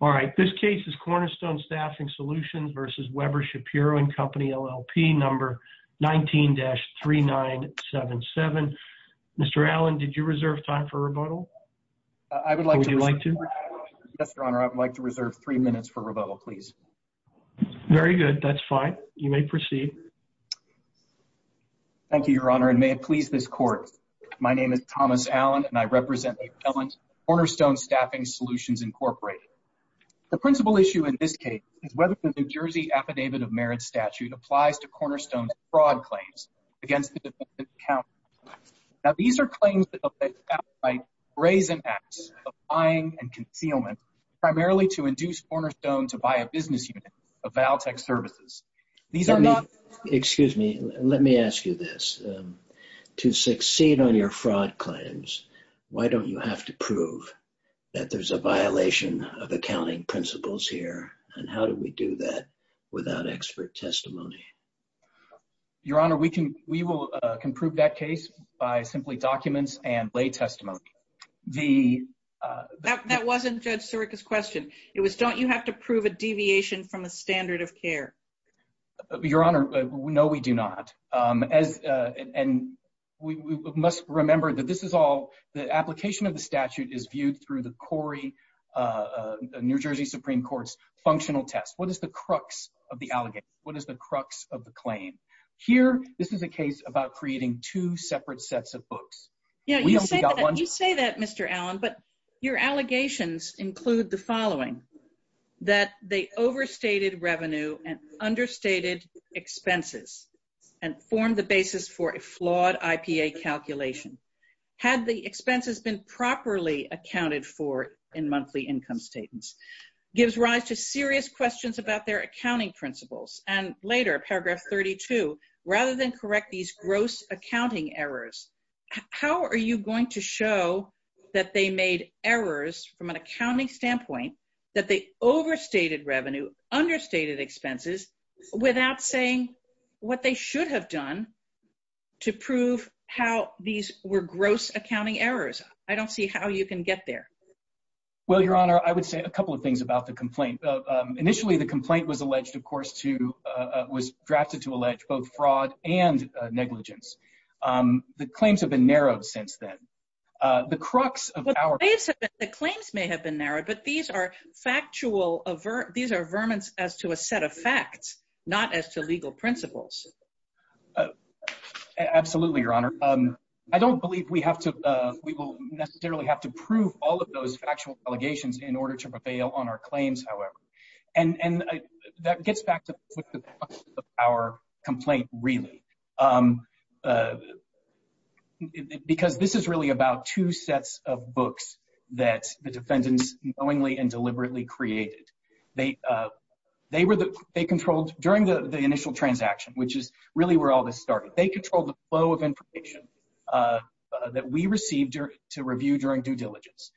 All right, this case is Cornerstone Staffing Solutions v. Weber Shapiro and Company, LLP, number 19-3977. Mr. Allen, did you reserve time for rebuttal? I would like to. Would you like to? Yes, Your Honor, I would like to reserve three minutes for rebuttal, please. Very good. That's fine. You may proceed. Thank you, Your Honor, and may it please this Court, my name is Thomas Allen and I represent the appellant Cornerstone Staffing Solutions, Incorporated. The principal issue in this case is whether the New Jersey Affidavit of Merit statute applies to Cornerstone's fraud claims against the defendant's account. Now, these are claims that the defendant's account might raise impacts of buying and concealment, primarily to induce Cornerstone to buy a business unit of Valtech Services. These are not... Excuse me, let me ask you this. To succeed on your fraud claims, why don't you have to prove that there's a violation of accounting principles here? And how do we do that without expert testimony? Your Honor, we can, we will, can prove that case by simply documents and lay testimony. The... That wasn't Judge Sirica's question. It was, don't you have to prove a deviation from a standard of care? Your Honor, no, we do not. As, and we must remember that this is all, the application of the statute is viewed through the Corey, New Jersey Supreme Court's functional test. What is the crux of the allegation? What is the crux of the claim? Here, this is a case about creating two separate sets of books. Yeah, you say that, Mr. Allen, but your allegations include the following, that they overstated revenue and understated expenses and formed the basis for a flawed IPA calculation. Had the expenses been properly accounted for in monthly income statements, gives rise to serious questions about their accounting principles. And later, paragraph 32, rather than correct these gross accounting errors, how are you going to show that they made errors from an accounting standpoint, that they overstated revenue, understated expenses, without saying what they should have done to prove how these were gross accounting errors? I don't see how you can get there. Well, Your Honor, I would say a couple of things about the complaint. Initially, the complaint was alleged, of course, to, was drafted to allege both fraud and negligence. The claims have been narrowed since then. The crux of our- The claims may have been narrowed, but these are factual, these are verments as to a set of facts, not as to legal principles. Absolutely, Your Honor. I don't believe we have to, we will necessarily have to prove all of those factual allegations in order to prevail on our claims, however. And that gets back to the crux of our complaint, really. Because this is really about two sets of books that the defendants knowingly and deliberately created. They controlled, during the initial transaction, which is really where all this started, they controlled the flow of information that we received to review during due diligence.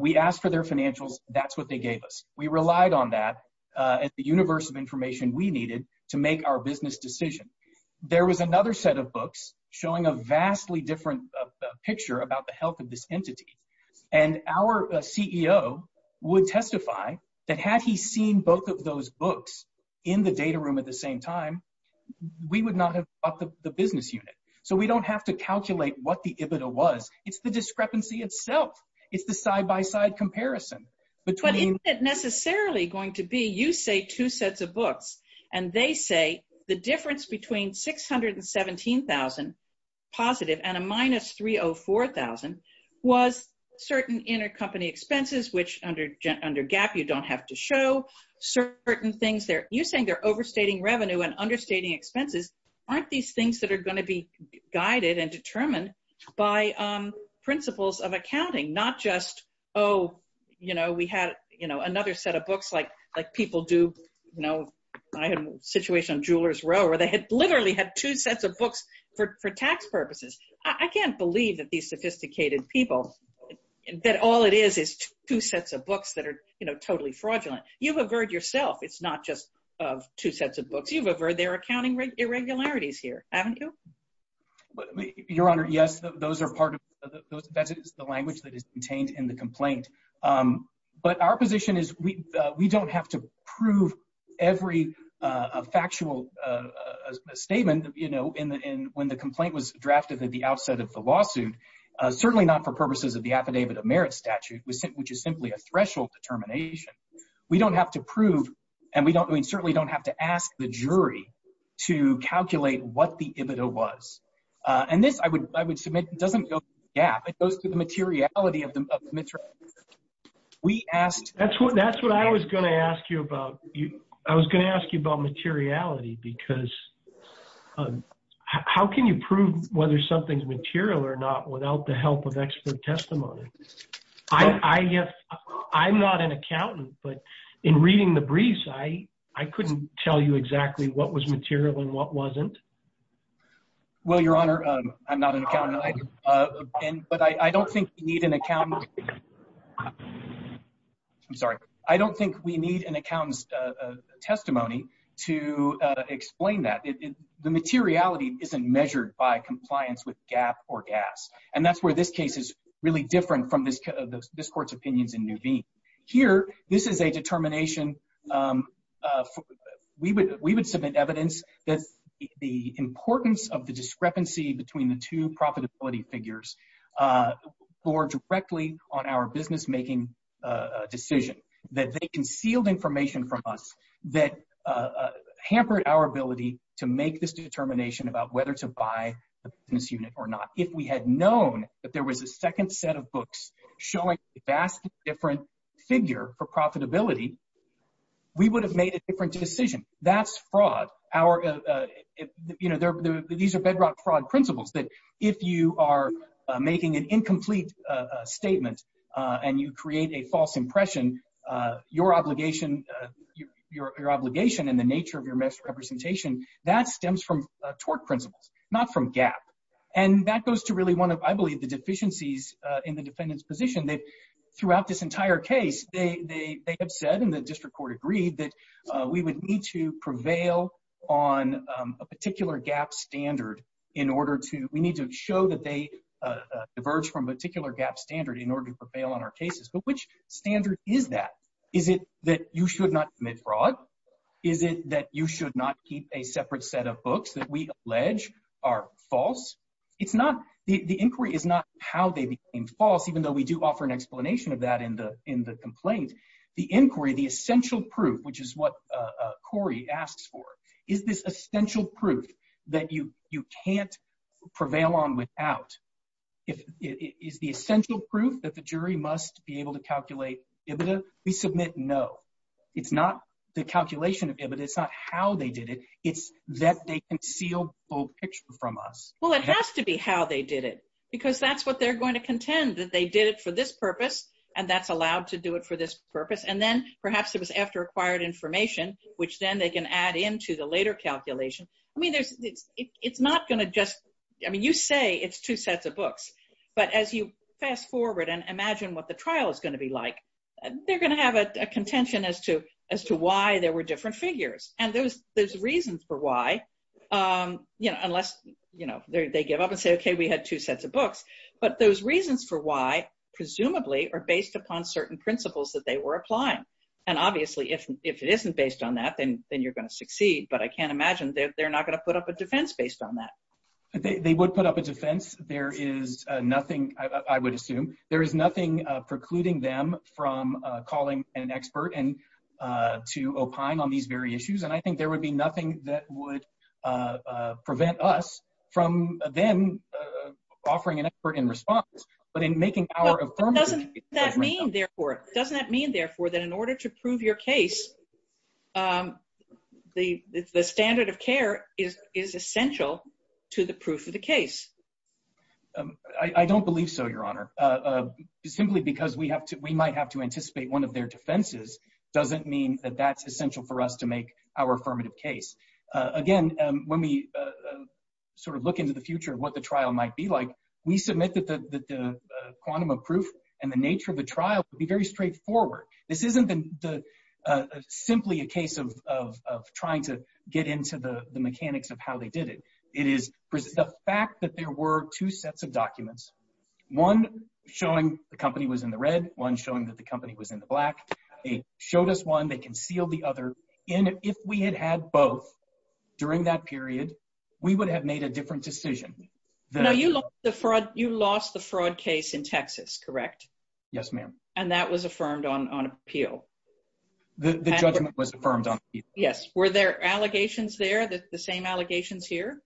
We asked for their financials, that's what they gave us. We relied on that and the universe of information we needed to make our business decision. There was another set of books showing a vastly different picture about the health of this entity. And our CEO would testify that had he seen both of those books in the data room at the same time, we would not have bought the business unit. So we don't have to calculate what the EBITDA was. It's the discrepancy itself. It's the side by side comparison. But isn't it necessarily going to be, you say two sets of books and they say the difference between 617,000 positive and a minus 304,000 was certain intercompany expenses, which under GAP you don't have to show, certain things there. You're saying they're overstating revenue and understating expenses. Aren't these things that are going to be guided and determined by principles of accounting, not just, oh, you know, we had, you know, another set of books like people do. You know, I had a situation on Jewelers Row where they had literally had two sets of books for tax purposes. I can't believe that these sophisticated people, that all it is, is two sets of books that are, you know, totally fraudulent. You've averred yourself. It's not just of two sets of books. You've averred their accounting irregularities here, haven't you? Your Honor, yes, those are part of the language that is contained in the complaint. But our position is we don't have to prove every factual statement, you know, when the complaint was drafted at the outset of the lawsuit. Certainly not for purposes of the Affidavit of Merit statute, which is simply a threshold determination. We don't have to prove and we certainly don't have to ask the jury to calculate what the EBITDA was. And this, I would, I would submit, doesn't go to the gap. It goes to the materiality of the materiality. We asked. That's what, that's what I was going to ask you about. I was going to ask you about materiality, because how can you prove whether something's material or not without the help of expert testimony? I, I have, I'm not an accountant, but in reading the briefs, I, I couldn't tell you exactly what was material and what wasn't. Well, Your Honor, I'm not an accountant, but I don't think you need an accountant. I'm sorry. I don't think we need an accountant's testimony to explain that the materiality isn't measured by compliance with GAAP or GAAS. And that's where this case is really different from this, this court's opinions in Nuveen. Here, this is a determination. We would, we would submit evidence that the importance of the discrepancy between the two profitability figures bore directly on our business-making decision, that they concealed information from us that hampered our ability to make this determination about whether to buy a business unit or not. If we had known that there was a second set of books showing a vastly different figure for profitability, we would have made a different decision. That's fraud. Our, you know, these are bedrock fraud principles that if you are making an incomplete statement and you create a false impression, your obligation, your obligation and the nature of your misrepresentation, that stems from tort principles, not from GAAP. And that goes to really one of, I believe, the deficiencies in the defendant's position that throughout this entire case, they have said, and the district court agreed, that we would need to prevail on a particular GAAP standard in order to, we need to show that they diverge from a particular GAAP standard in order to prevail on our cases. But which standard is that? Is it that you should not commit fraud? Is it that you should not keep a separate set of books that we allege are false? It's not, the inquiry is not how they became false, even though we do offer an explanation of that in the complaint. The inquiry, the essential proof, which is what Corey asks for, is this essential proof that you can't prevail on without? Is the essential proof that the jury must be able to calculate EBITDA? We submit no. It's not the calculation of EBITDA, it's not how they did it, it's that they concealed the whole picture from us. Well, it has to be how they did it, because that's what they're going to contend, that they did it for this purpose, and that's allowed to do it for this purpose. And then perhaps it was after acquired information, which then they can add into the later calculation. I mean, it's not going to just, I mean, you say it's two sets of books. But as you fast forward and imagine what the trial is going to be like, they're going to have a contention as to why there were different figures. And there's reasons for why, you know, unless, you know, they give up and say, OK, we had two sets of books. But those reasons for why, presumably, are based upon certain principles that they were applying. And obviously, if it isn't based on that, then you're going to succeed. But I can't imagine they're not going to put up a defense based on that. They would put up a defense. There is nothing, I would assume, there is nothing precluding them from calling an expert and to opine on these very issues. And I think there would be nothing that would prevent us from them offering an expert in response. But in making our affirmative... Doesn't that mean, therefore, doesn't that mean, therefore, that in order to prove your case, the standard of care is essential to the proof of the case? I don't believe so, Your Honor, simply because we might have to anticipate one of their defenses doesn't mean that that's essential for us to make our affirmative case. Again, when we sort of look into the future of what the trial might be like, we submit that the quantum of proof and the nature of the trial would be very straightforward. This isn't simply a case of trying to get into the mechanics of how they did it. It is the fact that there were two sets of documents, one showing the company was in the red, one showing that the company was in the black. They showed us one. They concealed the other. And if we had had both during that period, we would have made a different decision. Now, you lost the fraud case in Texas, correct? Yes, ma'am. And that was affirmed on appeal? The judgment was affirmed on appeal. Yes. Were there allegations there, the same allegations here?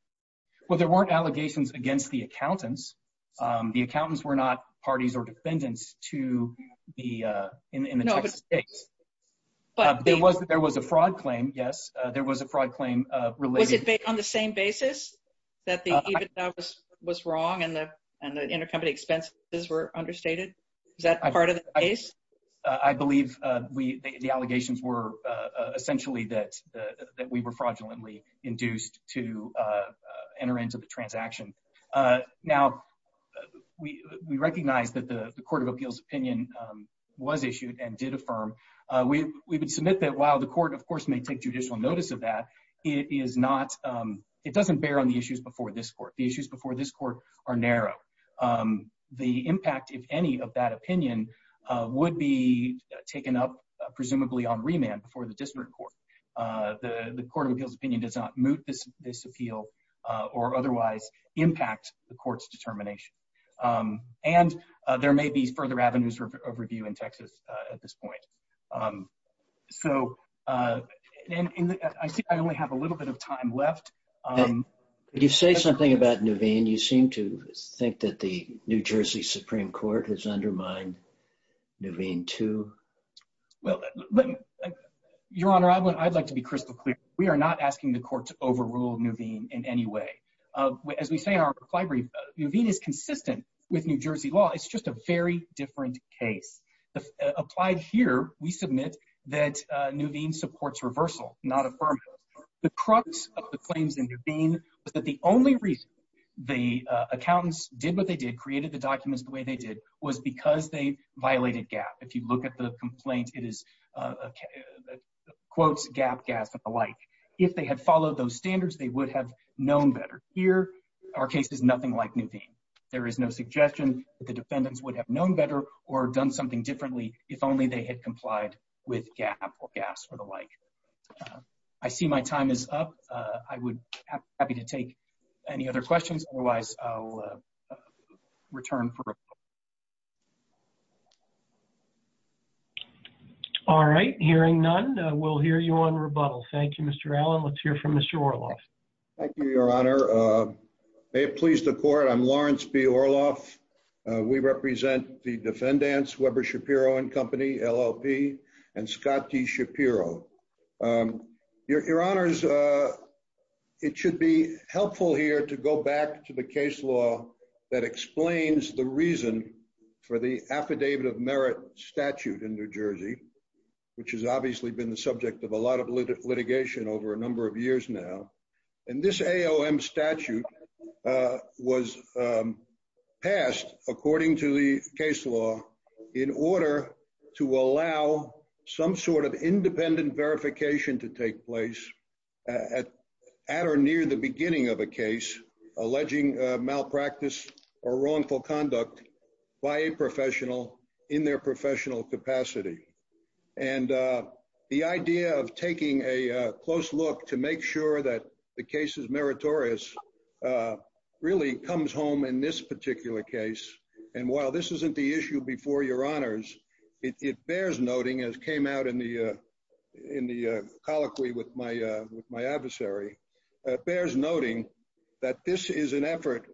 Well, there weren't allegations against the accountants. The accountants were not parties or defendants to the, in the Texas case. But there was there was a fraud claim. Yes, there was a fraud claim. Was it on the same basis that the evidence was wrong and the intercompany expenses were understated? Is that part of the case? I believe the allegations were essentially that we were fraudulently induced to enter into the transaction. Now, we recognize that the Court of Appeals opinion was issued and did affirm. We would submit that while the court, of course, may take judicial notice of that, it is not, it doesn't bear on the issues before this court. The impact, if any, of that opinion would be taken up, presumably on remand before the district court. The Court of Appeals opinion does not moot this appeal or otherwise impact the court's determination. And there may be further avenues of review in Texas at this point. So, I think I only have a little bit of time left. And you say something about Nuveen. You seem to think that the New Jersey Supreme Court has undermined Nuveen, too. Well, Your Honor, I would, I'd like to be crystal clear. We are not asking the court to overrule Nuveen in any way. As we say in our reply brief, Nuveen is consistent with New Jersey law. It's just a very different case. Applied here, we submit that Nuveen supports reversal, not affirm. The crux of the claims in Nuveen was that the only reason the accountants did what they did, created the documents the way they did, was because they violated GAAP. If you look at the complaint, it is, quotes, GAAP, GAAS, and the like. If they had followed those standards, they would have known better. Here, our case is nothing like Nuveen. There is no suggestion that the defendants would have known better or done something differently if only they had complied with GAAP or GAAS or the like. I see my time is up. I would be happy to take any other questions. Otherwise, I'll return for rebuttal. All right, hearing none, we'll hear you on rebuttal. Thank you, Mr. Allen. Let's hear from Mr. Orloff. Thank you, Your Honor. May it please the court, I'm Lawrence B. Orloff. We represent the defendants, Weber Shapiro and Company, LLP, and Scott D. Shapiro. Your Honors, it should be helpful here to go back to the case law that explains the reason for the Affidavit of Merit statute in New Jersey, which has obviously been the subject of a lot of litigation over a number of years now. And this AOM statute was passed according to the case law in order to allow some sort of independent verification to take place at or near the beginning of a case alleging malpractice or wrongful conduct by a professional in their professional capacity. And the idea of taking a close look to make sure that the case is meritorious really comes home in this particular case, and while this isn't the issue before your honors, it bears noting, as came out in the colloquy with my adversary, bears noting that this is an effort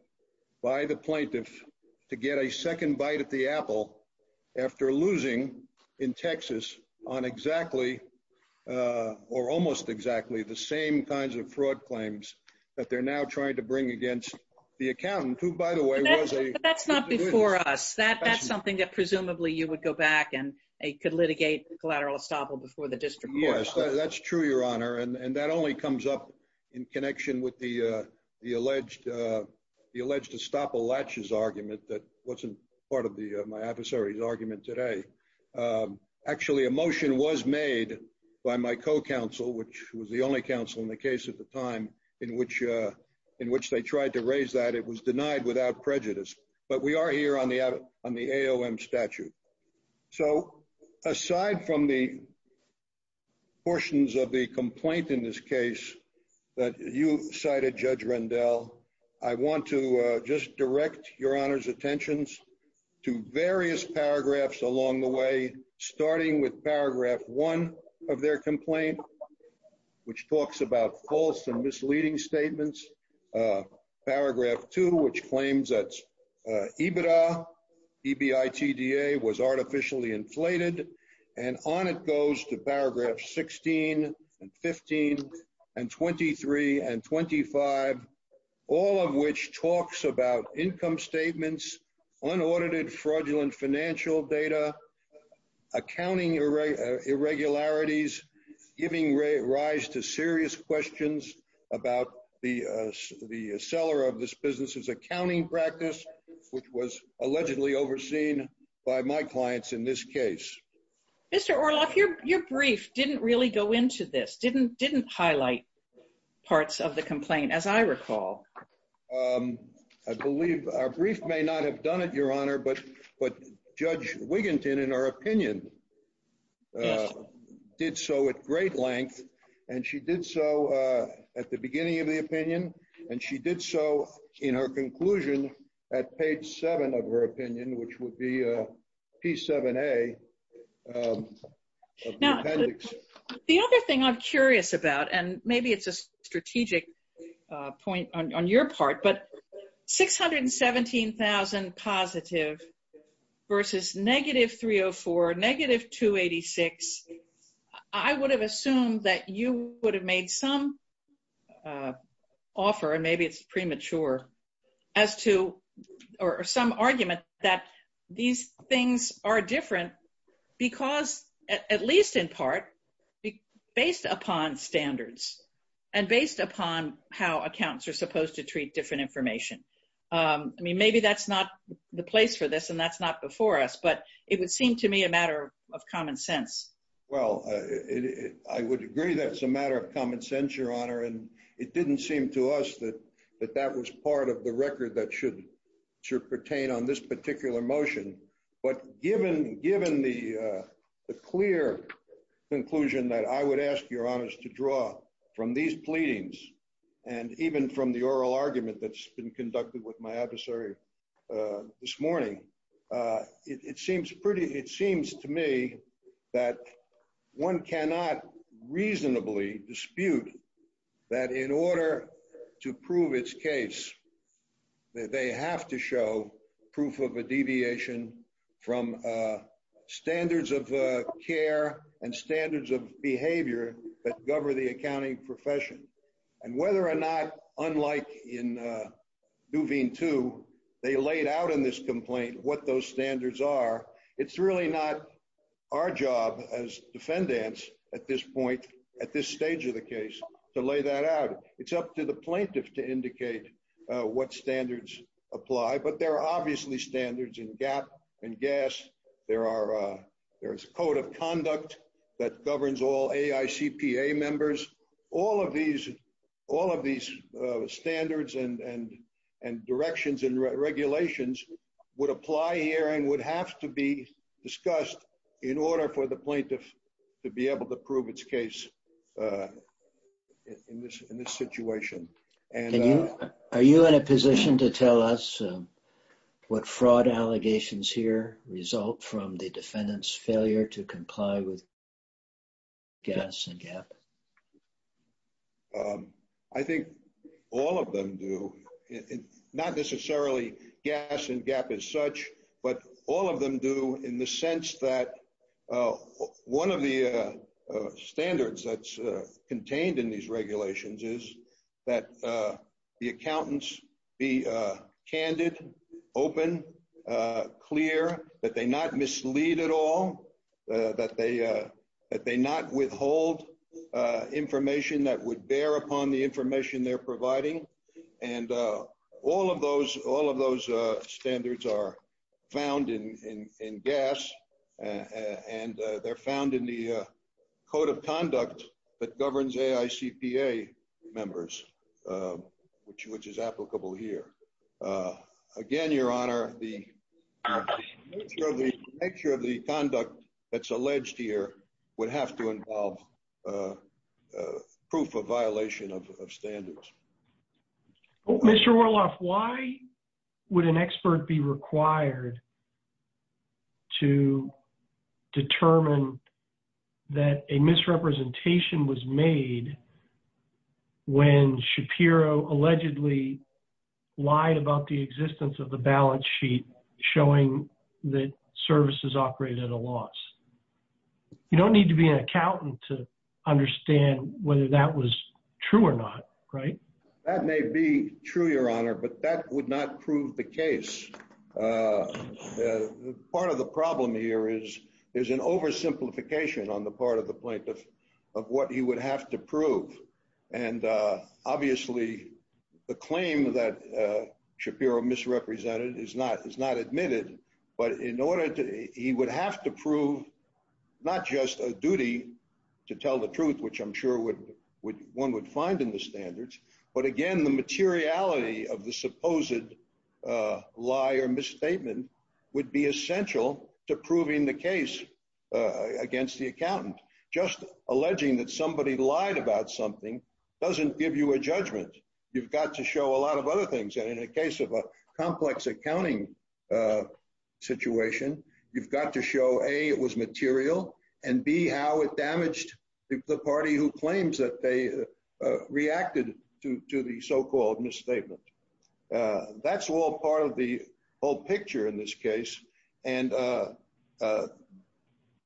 by the plaintiff to get a second bite at the apple after losing in Texas on exactly, or almost exactly, the same kinds of fraud claims that they're now trying to bring against the accountant, who by the way, was a- But that's not before us. That's something that presumably you would go back and could litigate collateral estoppel before the district court. Yes, that's true, your honor, and that only comes up in connection with the alleged estoppel latches argument that wasn't part of my adversary's argument today. Actually, a motion was made by my co-counsel, which was the only counsel in the case at the time in which they tried to raise that. It was denied without prejudice, but we are here on the AOM statute. So, aside from the portions of the complaint in this case that you cited, Judge Rendell, I want to just direct your honor's attentions to various paragraphs along the way, starting with paragraph one of their complaint, which talks about false and misleading statements. Paragraph two, which claims that EBITDA, E-B-I-T-D-A, was artificially inflated. And on it goes to paragraph 16 and 15 and 23 and 25, all of which talks about income statements, unaudited fraudulent financial data, accounting irregularities, giving rise to serious questions about the seller of this business's accounting practice, which was allegedly overseen by my clients in this case. Mr. Orloff, your brief didn't really go into this, didn't highlight parts of the complaint, as I recall. I believe our brief may not have done it, your honor, but Judge Wiginton, in her opinion, did so at great length, and she did so at the beginning of the opinion, and she did so in her conclusion at page seven of her opinion, which would be P7A of the appendix. Now, the other thing I'm curious about, and maybe it's a strategic point on your part, but 617,000 positive versus negative 304, negative 286, I would have assumed that you would have made some offer, and maybe it's premature, as to, or some argument that these things are different because, at least in part, based upon standards and based upon how accounts are supposed to treat different information. I mean, maybe that's not the place for this, and that's not before us, but it would seem to me a matter of common sense. Well, I would agree that it's a matter of common sense, your honor, and it didn't seem to us that that was part of the record that should pertain on this particular motion, but given the clear conclusion that I would ask your honors to draw from these pleadings, and even from the oral argument that's been conducted with my adversary this morning, it seems pretty, it seems to me that one cannot reasonably dispute that in order to prove its case that they have to show proof of a deviation from standards of care and standards of behavior that govern the accounting profession, and whether or not, unlike in Duveen 2, they laid out in this complaint what those standards are, it's really not our job as defendants at this point, at this stage of the case, to lay that out. It's up to the plaintiff to indicate what standards apply, but there are obviously standards in GAP and GAS, there is a code of conduct that governs all AICPA members, all of these standards and directions and regulations would apply here and would have to be discussed in order for the plaintiff to be able to prove its case in this situation. Are you in a position to tell us what fraud allegations here result from the defendant's failure to comply with GAS and GAP? I think all of them do, not necessarily GAS and GAP as such, but all of them do in the sense that one of the standards that's contained in these regulations is that the accountants be candid, open, clear, that they not mislead at all, that they not withhold information that would bear upon the information they're providing, and all of those standards are found in GAS and they're found in the code of conduct that governs AICPA members, which is applicable here. Again, your honor, the nature of the conduct that's alleged here would have to involve proof of violation of standards. Mr. Orloff, why would an expert be required to determine that a misrepresentation was made when Shapiro allegedly lied about the existence of the balance sheet showing that services operated at a loss? You don't need to be an accountant to understand whether that was true or not, right? That may be true, your honor, but that would not prove the case. Part of the problem here is there's an oversimplification on the part of the plaintiff of what he would have to prove, and obviously the claim that Shapiro misrepresented is not admitted, but he would have to prove not just a duty to tell the truth, which I'm sure one would find in the standards, but again, the materiality of the supposed lie or misstatement would be essential to proving the case against the accountant. Just alleging that somebody lied about something doesn't give you a judgment. You've got to show a lot of other things, and in the case of a complex accounting situation, you've got to show A, it was material, and B, how it damaged the party who claims that they reacted to the so-called misstatement. That's all part of the whole picture in this case, and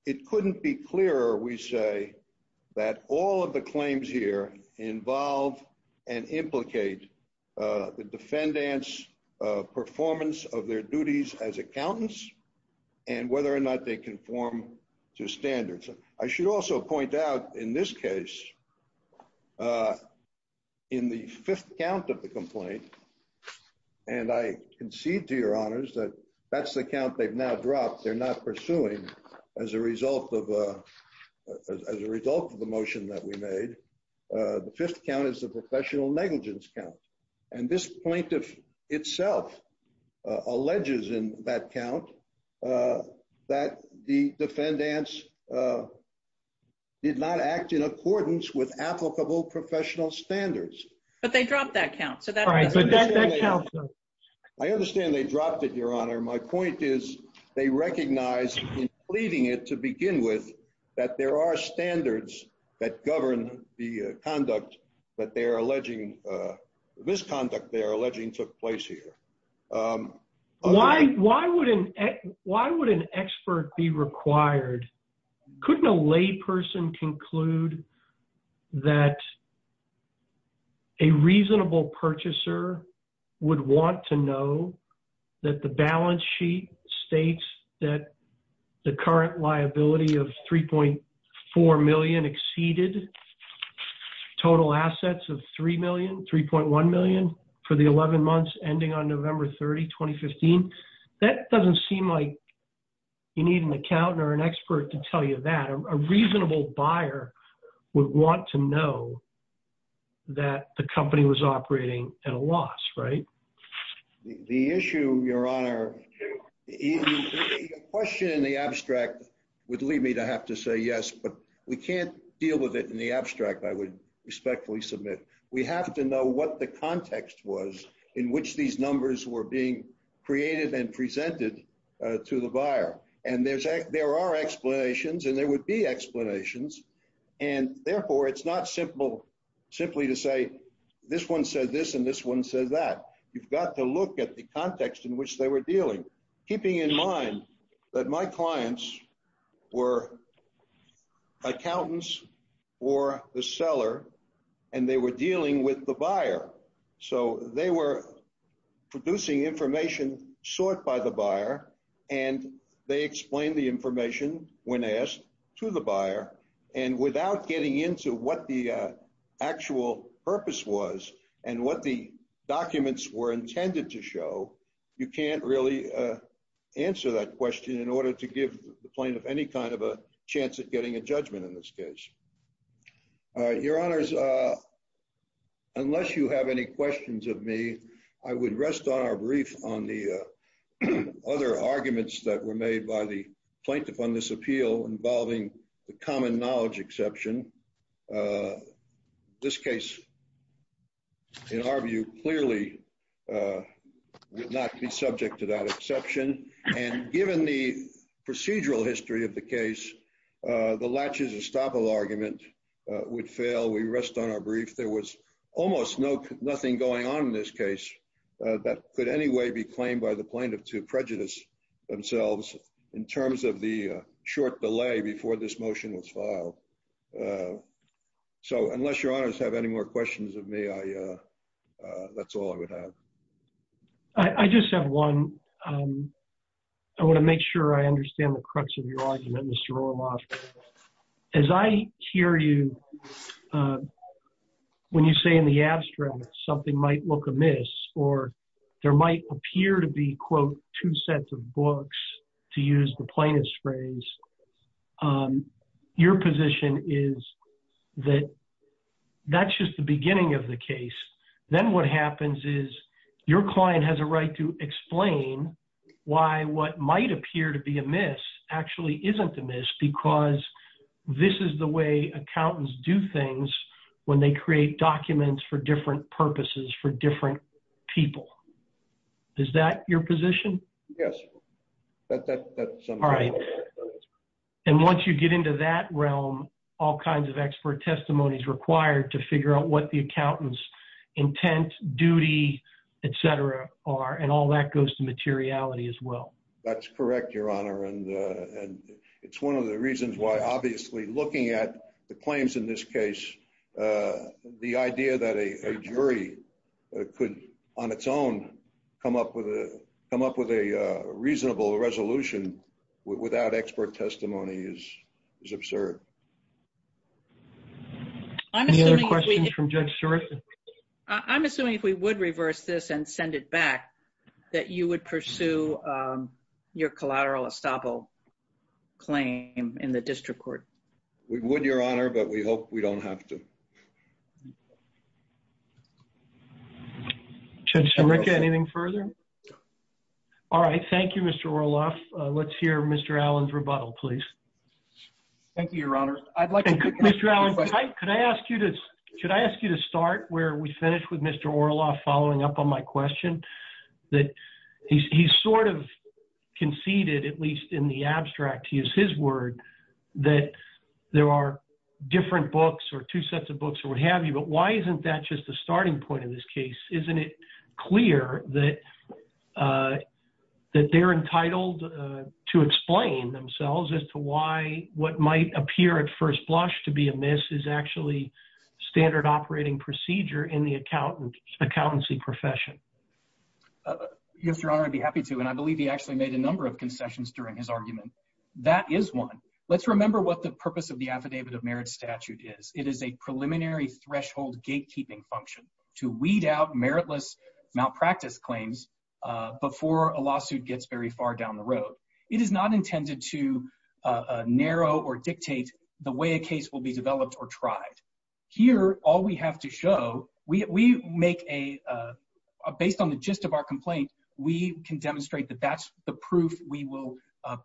it couldn't be clearer, we say, that all of the claims here involve and implicate the defendant's performance of their duties as standards. I should also point out in this case, in the fifth count of the complaint, and I concede to your honors that that's the count they've now dropped, they're not pursuing as a result of the motion that we made. The fifth count is the professional negligence count, and this plaintiff itself alleges in that count that the defendants did not act in accordance with applicable professional standards. But they dropped that count. I understand they dropped it, your honor. My point is they recognize in pleading it to begin with that there are standards that govern the conduct that they're alleging, misconduct they're alleging took place here. Why would an expert be required? Couldn't a layperson conclude that a reasonable purchaser would want to know that the balance sheet states that the current liability of $3.4 million exceeded total assets of $3.1 million for the 11 months ending on November 30, 2015? That doesn't seem like you need an accountant or an expert to tell you that. A reasonable buyer would want to know that the company was operating at a loss, right? The issue, your honor, the question in the abstract would lead me to have to say yes, but we can't deal with it in the abstract, I would respectfully submit. We have to know what the context was in which these numbers were being created and presented to the buyer. And there are explanations, and there would be explanations. And therefore, it's not simply to this one said this, and this one says that. You've got to look at the context in which they were dealing, keeping in mind that my clients were accountants or the seller, and they were dealing with the buyer. So they were producing information sought by the buyer, and they were dealing with the buyer. And therefore, you can't really answer that question in order to give the plaintiff any kind of a chance at getting a judgment in this case. Your honors, unless you have any questions of me, I would rest on our brief on the other arguments that were made by the plaintiff on this appeal involving the common knowledge exception. This case, in our view, clearly would not be subject to that exception. And given the procedural history of the case, the latches estoppel argument would fail, we rest on our brief. There was almost nothing going on in this case that could any way be claimed by the plaintiff to prejudice themselves in terms of the short delay before this motion was filed. So unless your honors have any more questions of me, that's all I would have. I just have one. I want to make sure I understand the crux of your argument, Mr. Orloff. As I hear you, when you say in the abstract something might look amiss, or there might appear to be, quote, two sets of books, to use the plaintiff's phrase, your position is that that's just the beginning of the case. Then what happens is your client has a right to explain why what might appear to be amiss actually isn't amiss because this is the way accountants do things when they create documents for different purposes for different people. Is that your position? Yes. All right. And once you get into that realm, all kinds of expert testimony is required to figure out what the accountant's intent, duty, et cetera, are, and all that goes to materiality as well. That's correct, your honor. And it's one of the reasons why obviously looking at the claims in this case, the idea that a jury could on its own come up with a reasonable resolution without expert testimony is absurd. Any other questions from Judge Sherriff? I'm assuming if we would reverse this and send it back, that you would pursue your collateral estoppel claim in the district court. We would, your honor, but we hope we don't have to. Judge Sherriff, anything further? All right. Thank you, Mr. Orloff. Let's hear Mr. Allen's rebuttal, please. Thank you, your honor. Mr. Allen, could I ask you to start where we finished with Mr. Orloff following up on my question? He sort of conceded, at least in the abstract, to use his word, that there are different books or two sets of books or what have you, but why isn't that just a starting point in this case? Isn't it clear that they're entitled to explain themselves as to why what might appear at first blush to be amiss is actually standard operating procedure in the accountancy profession? Yes, your honor, I'd be happy to, and I believe he actually made a number of concessions during his argument. That is one. Let's remember what the purpose of the Affidavit of Merit statute is. It is a preliminary threshold gatekeeping function to weed out meritless malpractice claims before a lawsuit gets very far down the road. It is not intended to narrow or dictate the way a case will be developed or tried. Here, all we have to show, we make a, based on the gist of our complaint, we can demonstrate that that's the proof we will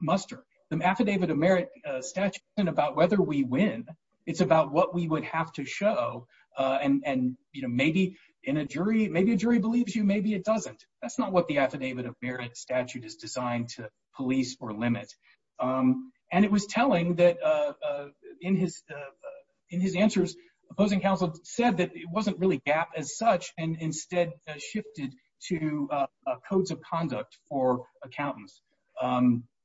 muster. The Affidavit of Merit statute isn't about whether we win. It's about what we would have to show, and maybe in a jury, maybe a jury believes you, maybe it doesn't. That's not what the Affidavit of Merit statute is designed to limit. And it was telling that in his answers, opposing counsel said that it wasn't really gap as such, and instead shifted to codes of conduct for accountants,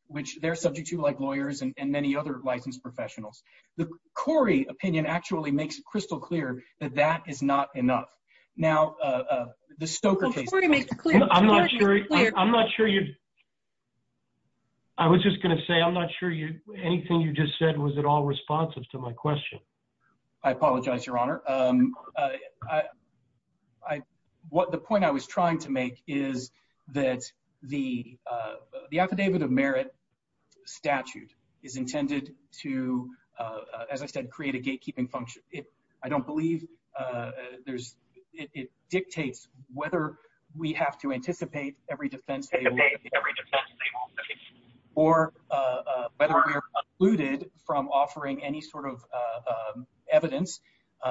which they're subject to like lawyers and many other licensed professionals. The Corey opinion actually makes it crystal clear that that is not enough. Now, the Stoker case. I'm not sure, I'm not sure you, I was just going to say, I'm not sure you, anything you just said, was it all responsive to my question? I apologize, Your Honor. I, I, what the point I was trying to make is that the, the Affidavit of Merit statute is intended to, as I said, create a gatekeeping function. It, I don't believe there's, it dictates whether we have to anticipate every defense, or whether we are excluded from offering any sort of evidence,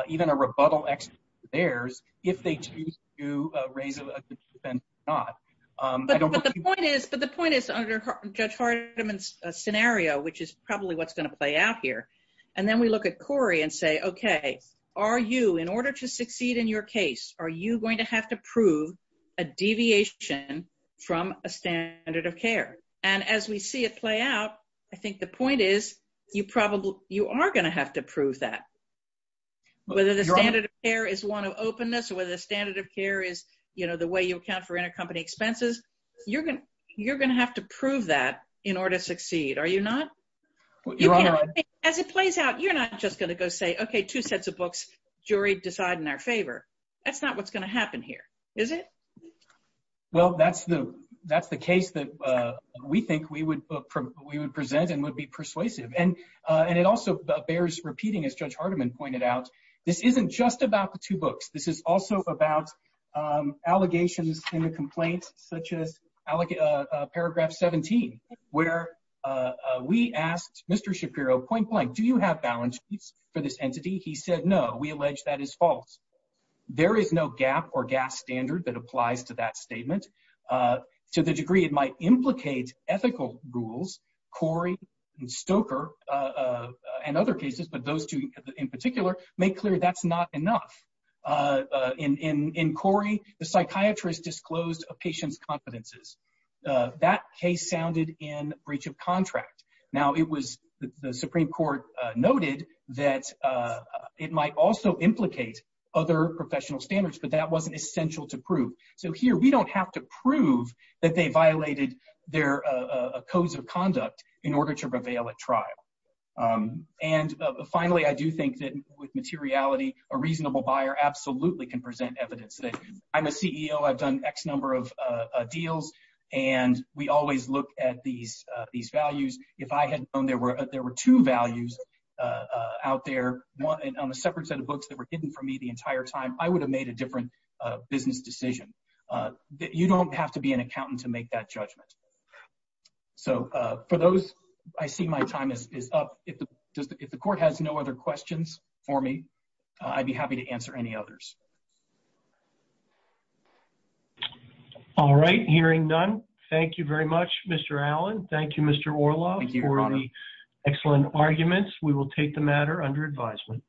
even a rebuttal to theirs, if they choose to raise a defense or not. But the point is, but the point is under Judge Hardiman's scenario, which is probably what's going to play out here, and then we look at Corey and say, okay, are you, in order to succeed in your case, are you going to have to prove a deviation from a standard of care? And as we see it play out, I think the point is, you probably, you are going to have to prove that. Whether the standard of care is one of openness, or whether the standard of care is, you know, the way you account for intercompany expenses, you're going to, you're going to have to prove that in order to succeed, are you not? As it plays out, you're not just going to go say, okay, two sets of books, jury decide in our favor. That's not what's going to happen here, is it? Well, that's the, that's the case that we think we would, we would present and would be persuasive. And, and it also bears repeating, as Judge Hardiman pointed out, this isn't just about the two books. This is also about allegations in the complaints, such as Paragraph 17, where we asked Mr. Shapiro, point blank, do you have balance sheets for this entity? He said, no, we allege that is false. There is no gap or gas standard that applies to that statement. To the degree it might implicate ethical rules, Corey and Stoker, and other cases, but those two in particular, make clear that's not enough. In Corey, the psychiatrist disclosed a patient's confidences. That case sounded in breach of contract. Now it was the Supreme Court noted that it might also implicate other professional standards, but that wasn't essential to prove. So here, we don't have to prove that they violated their codes of conduct in order to prevail at trial. And finally, I do think that with materiality, a reasonable buyer absolutely can present evidence that I'm a CEO, I've done X number of deals, and we always look at these, these values. If I had known there were, there were two values out there, one on a separate set of books that were hidden from me the entire time, I would have made a different business decision. You don't have to be an accountant to make that judgment. So for those, I see my time is up. If the court has no other questions for me, I'd be happy to answer any others. All right. Hearing none. Thank you very much, Mr. Allen. Thank you, Mr. Orloff, for the excellent arguments. We will take the matter under advisement.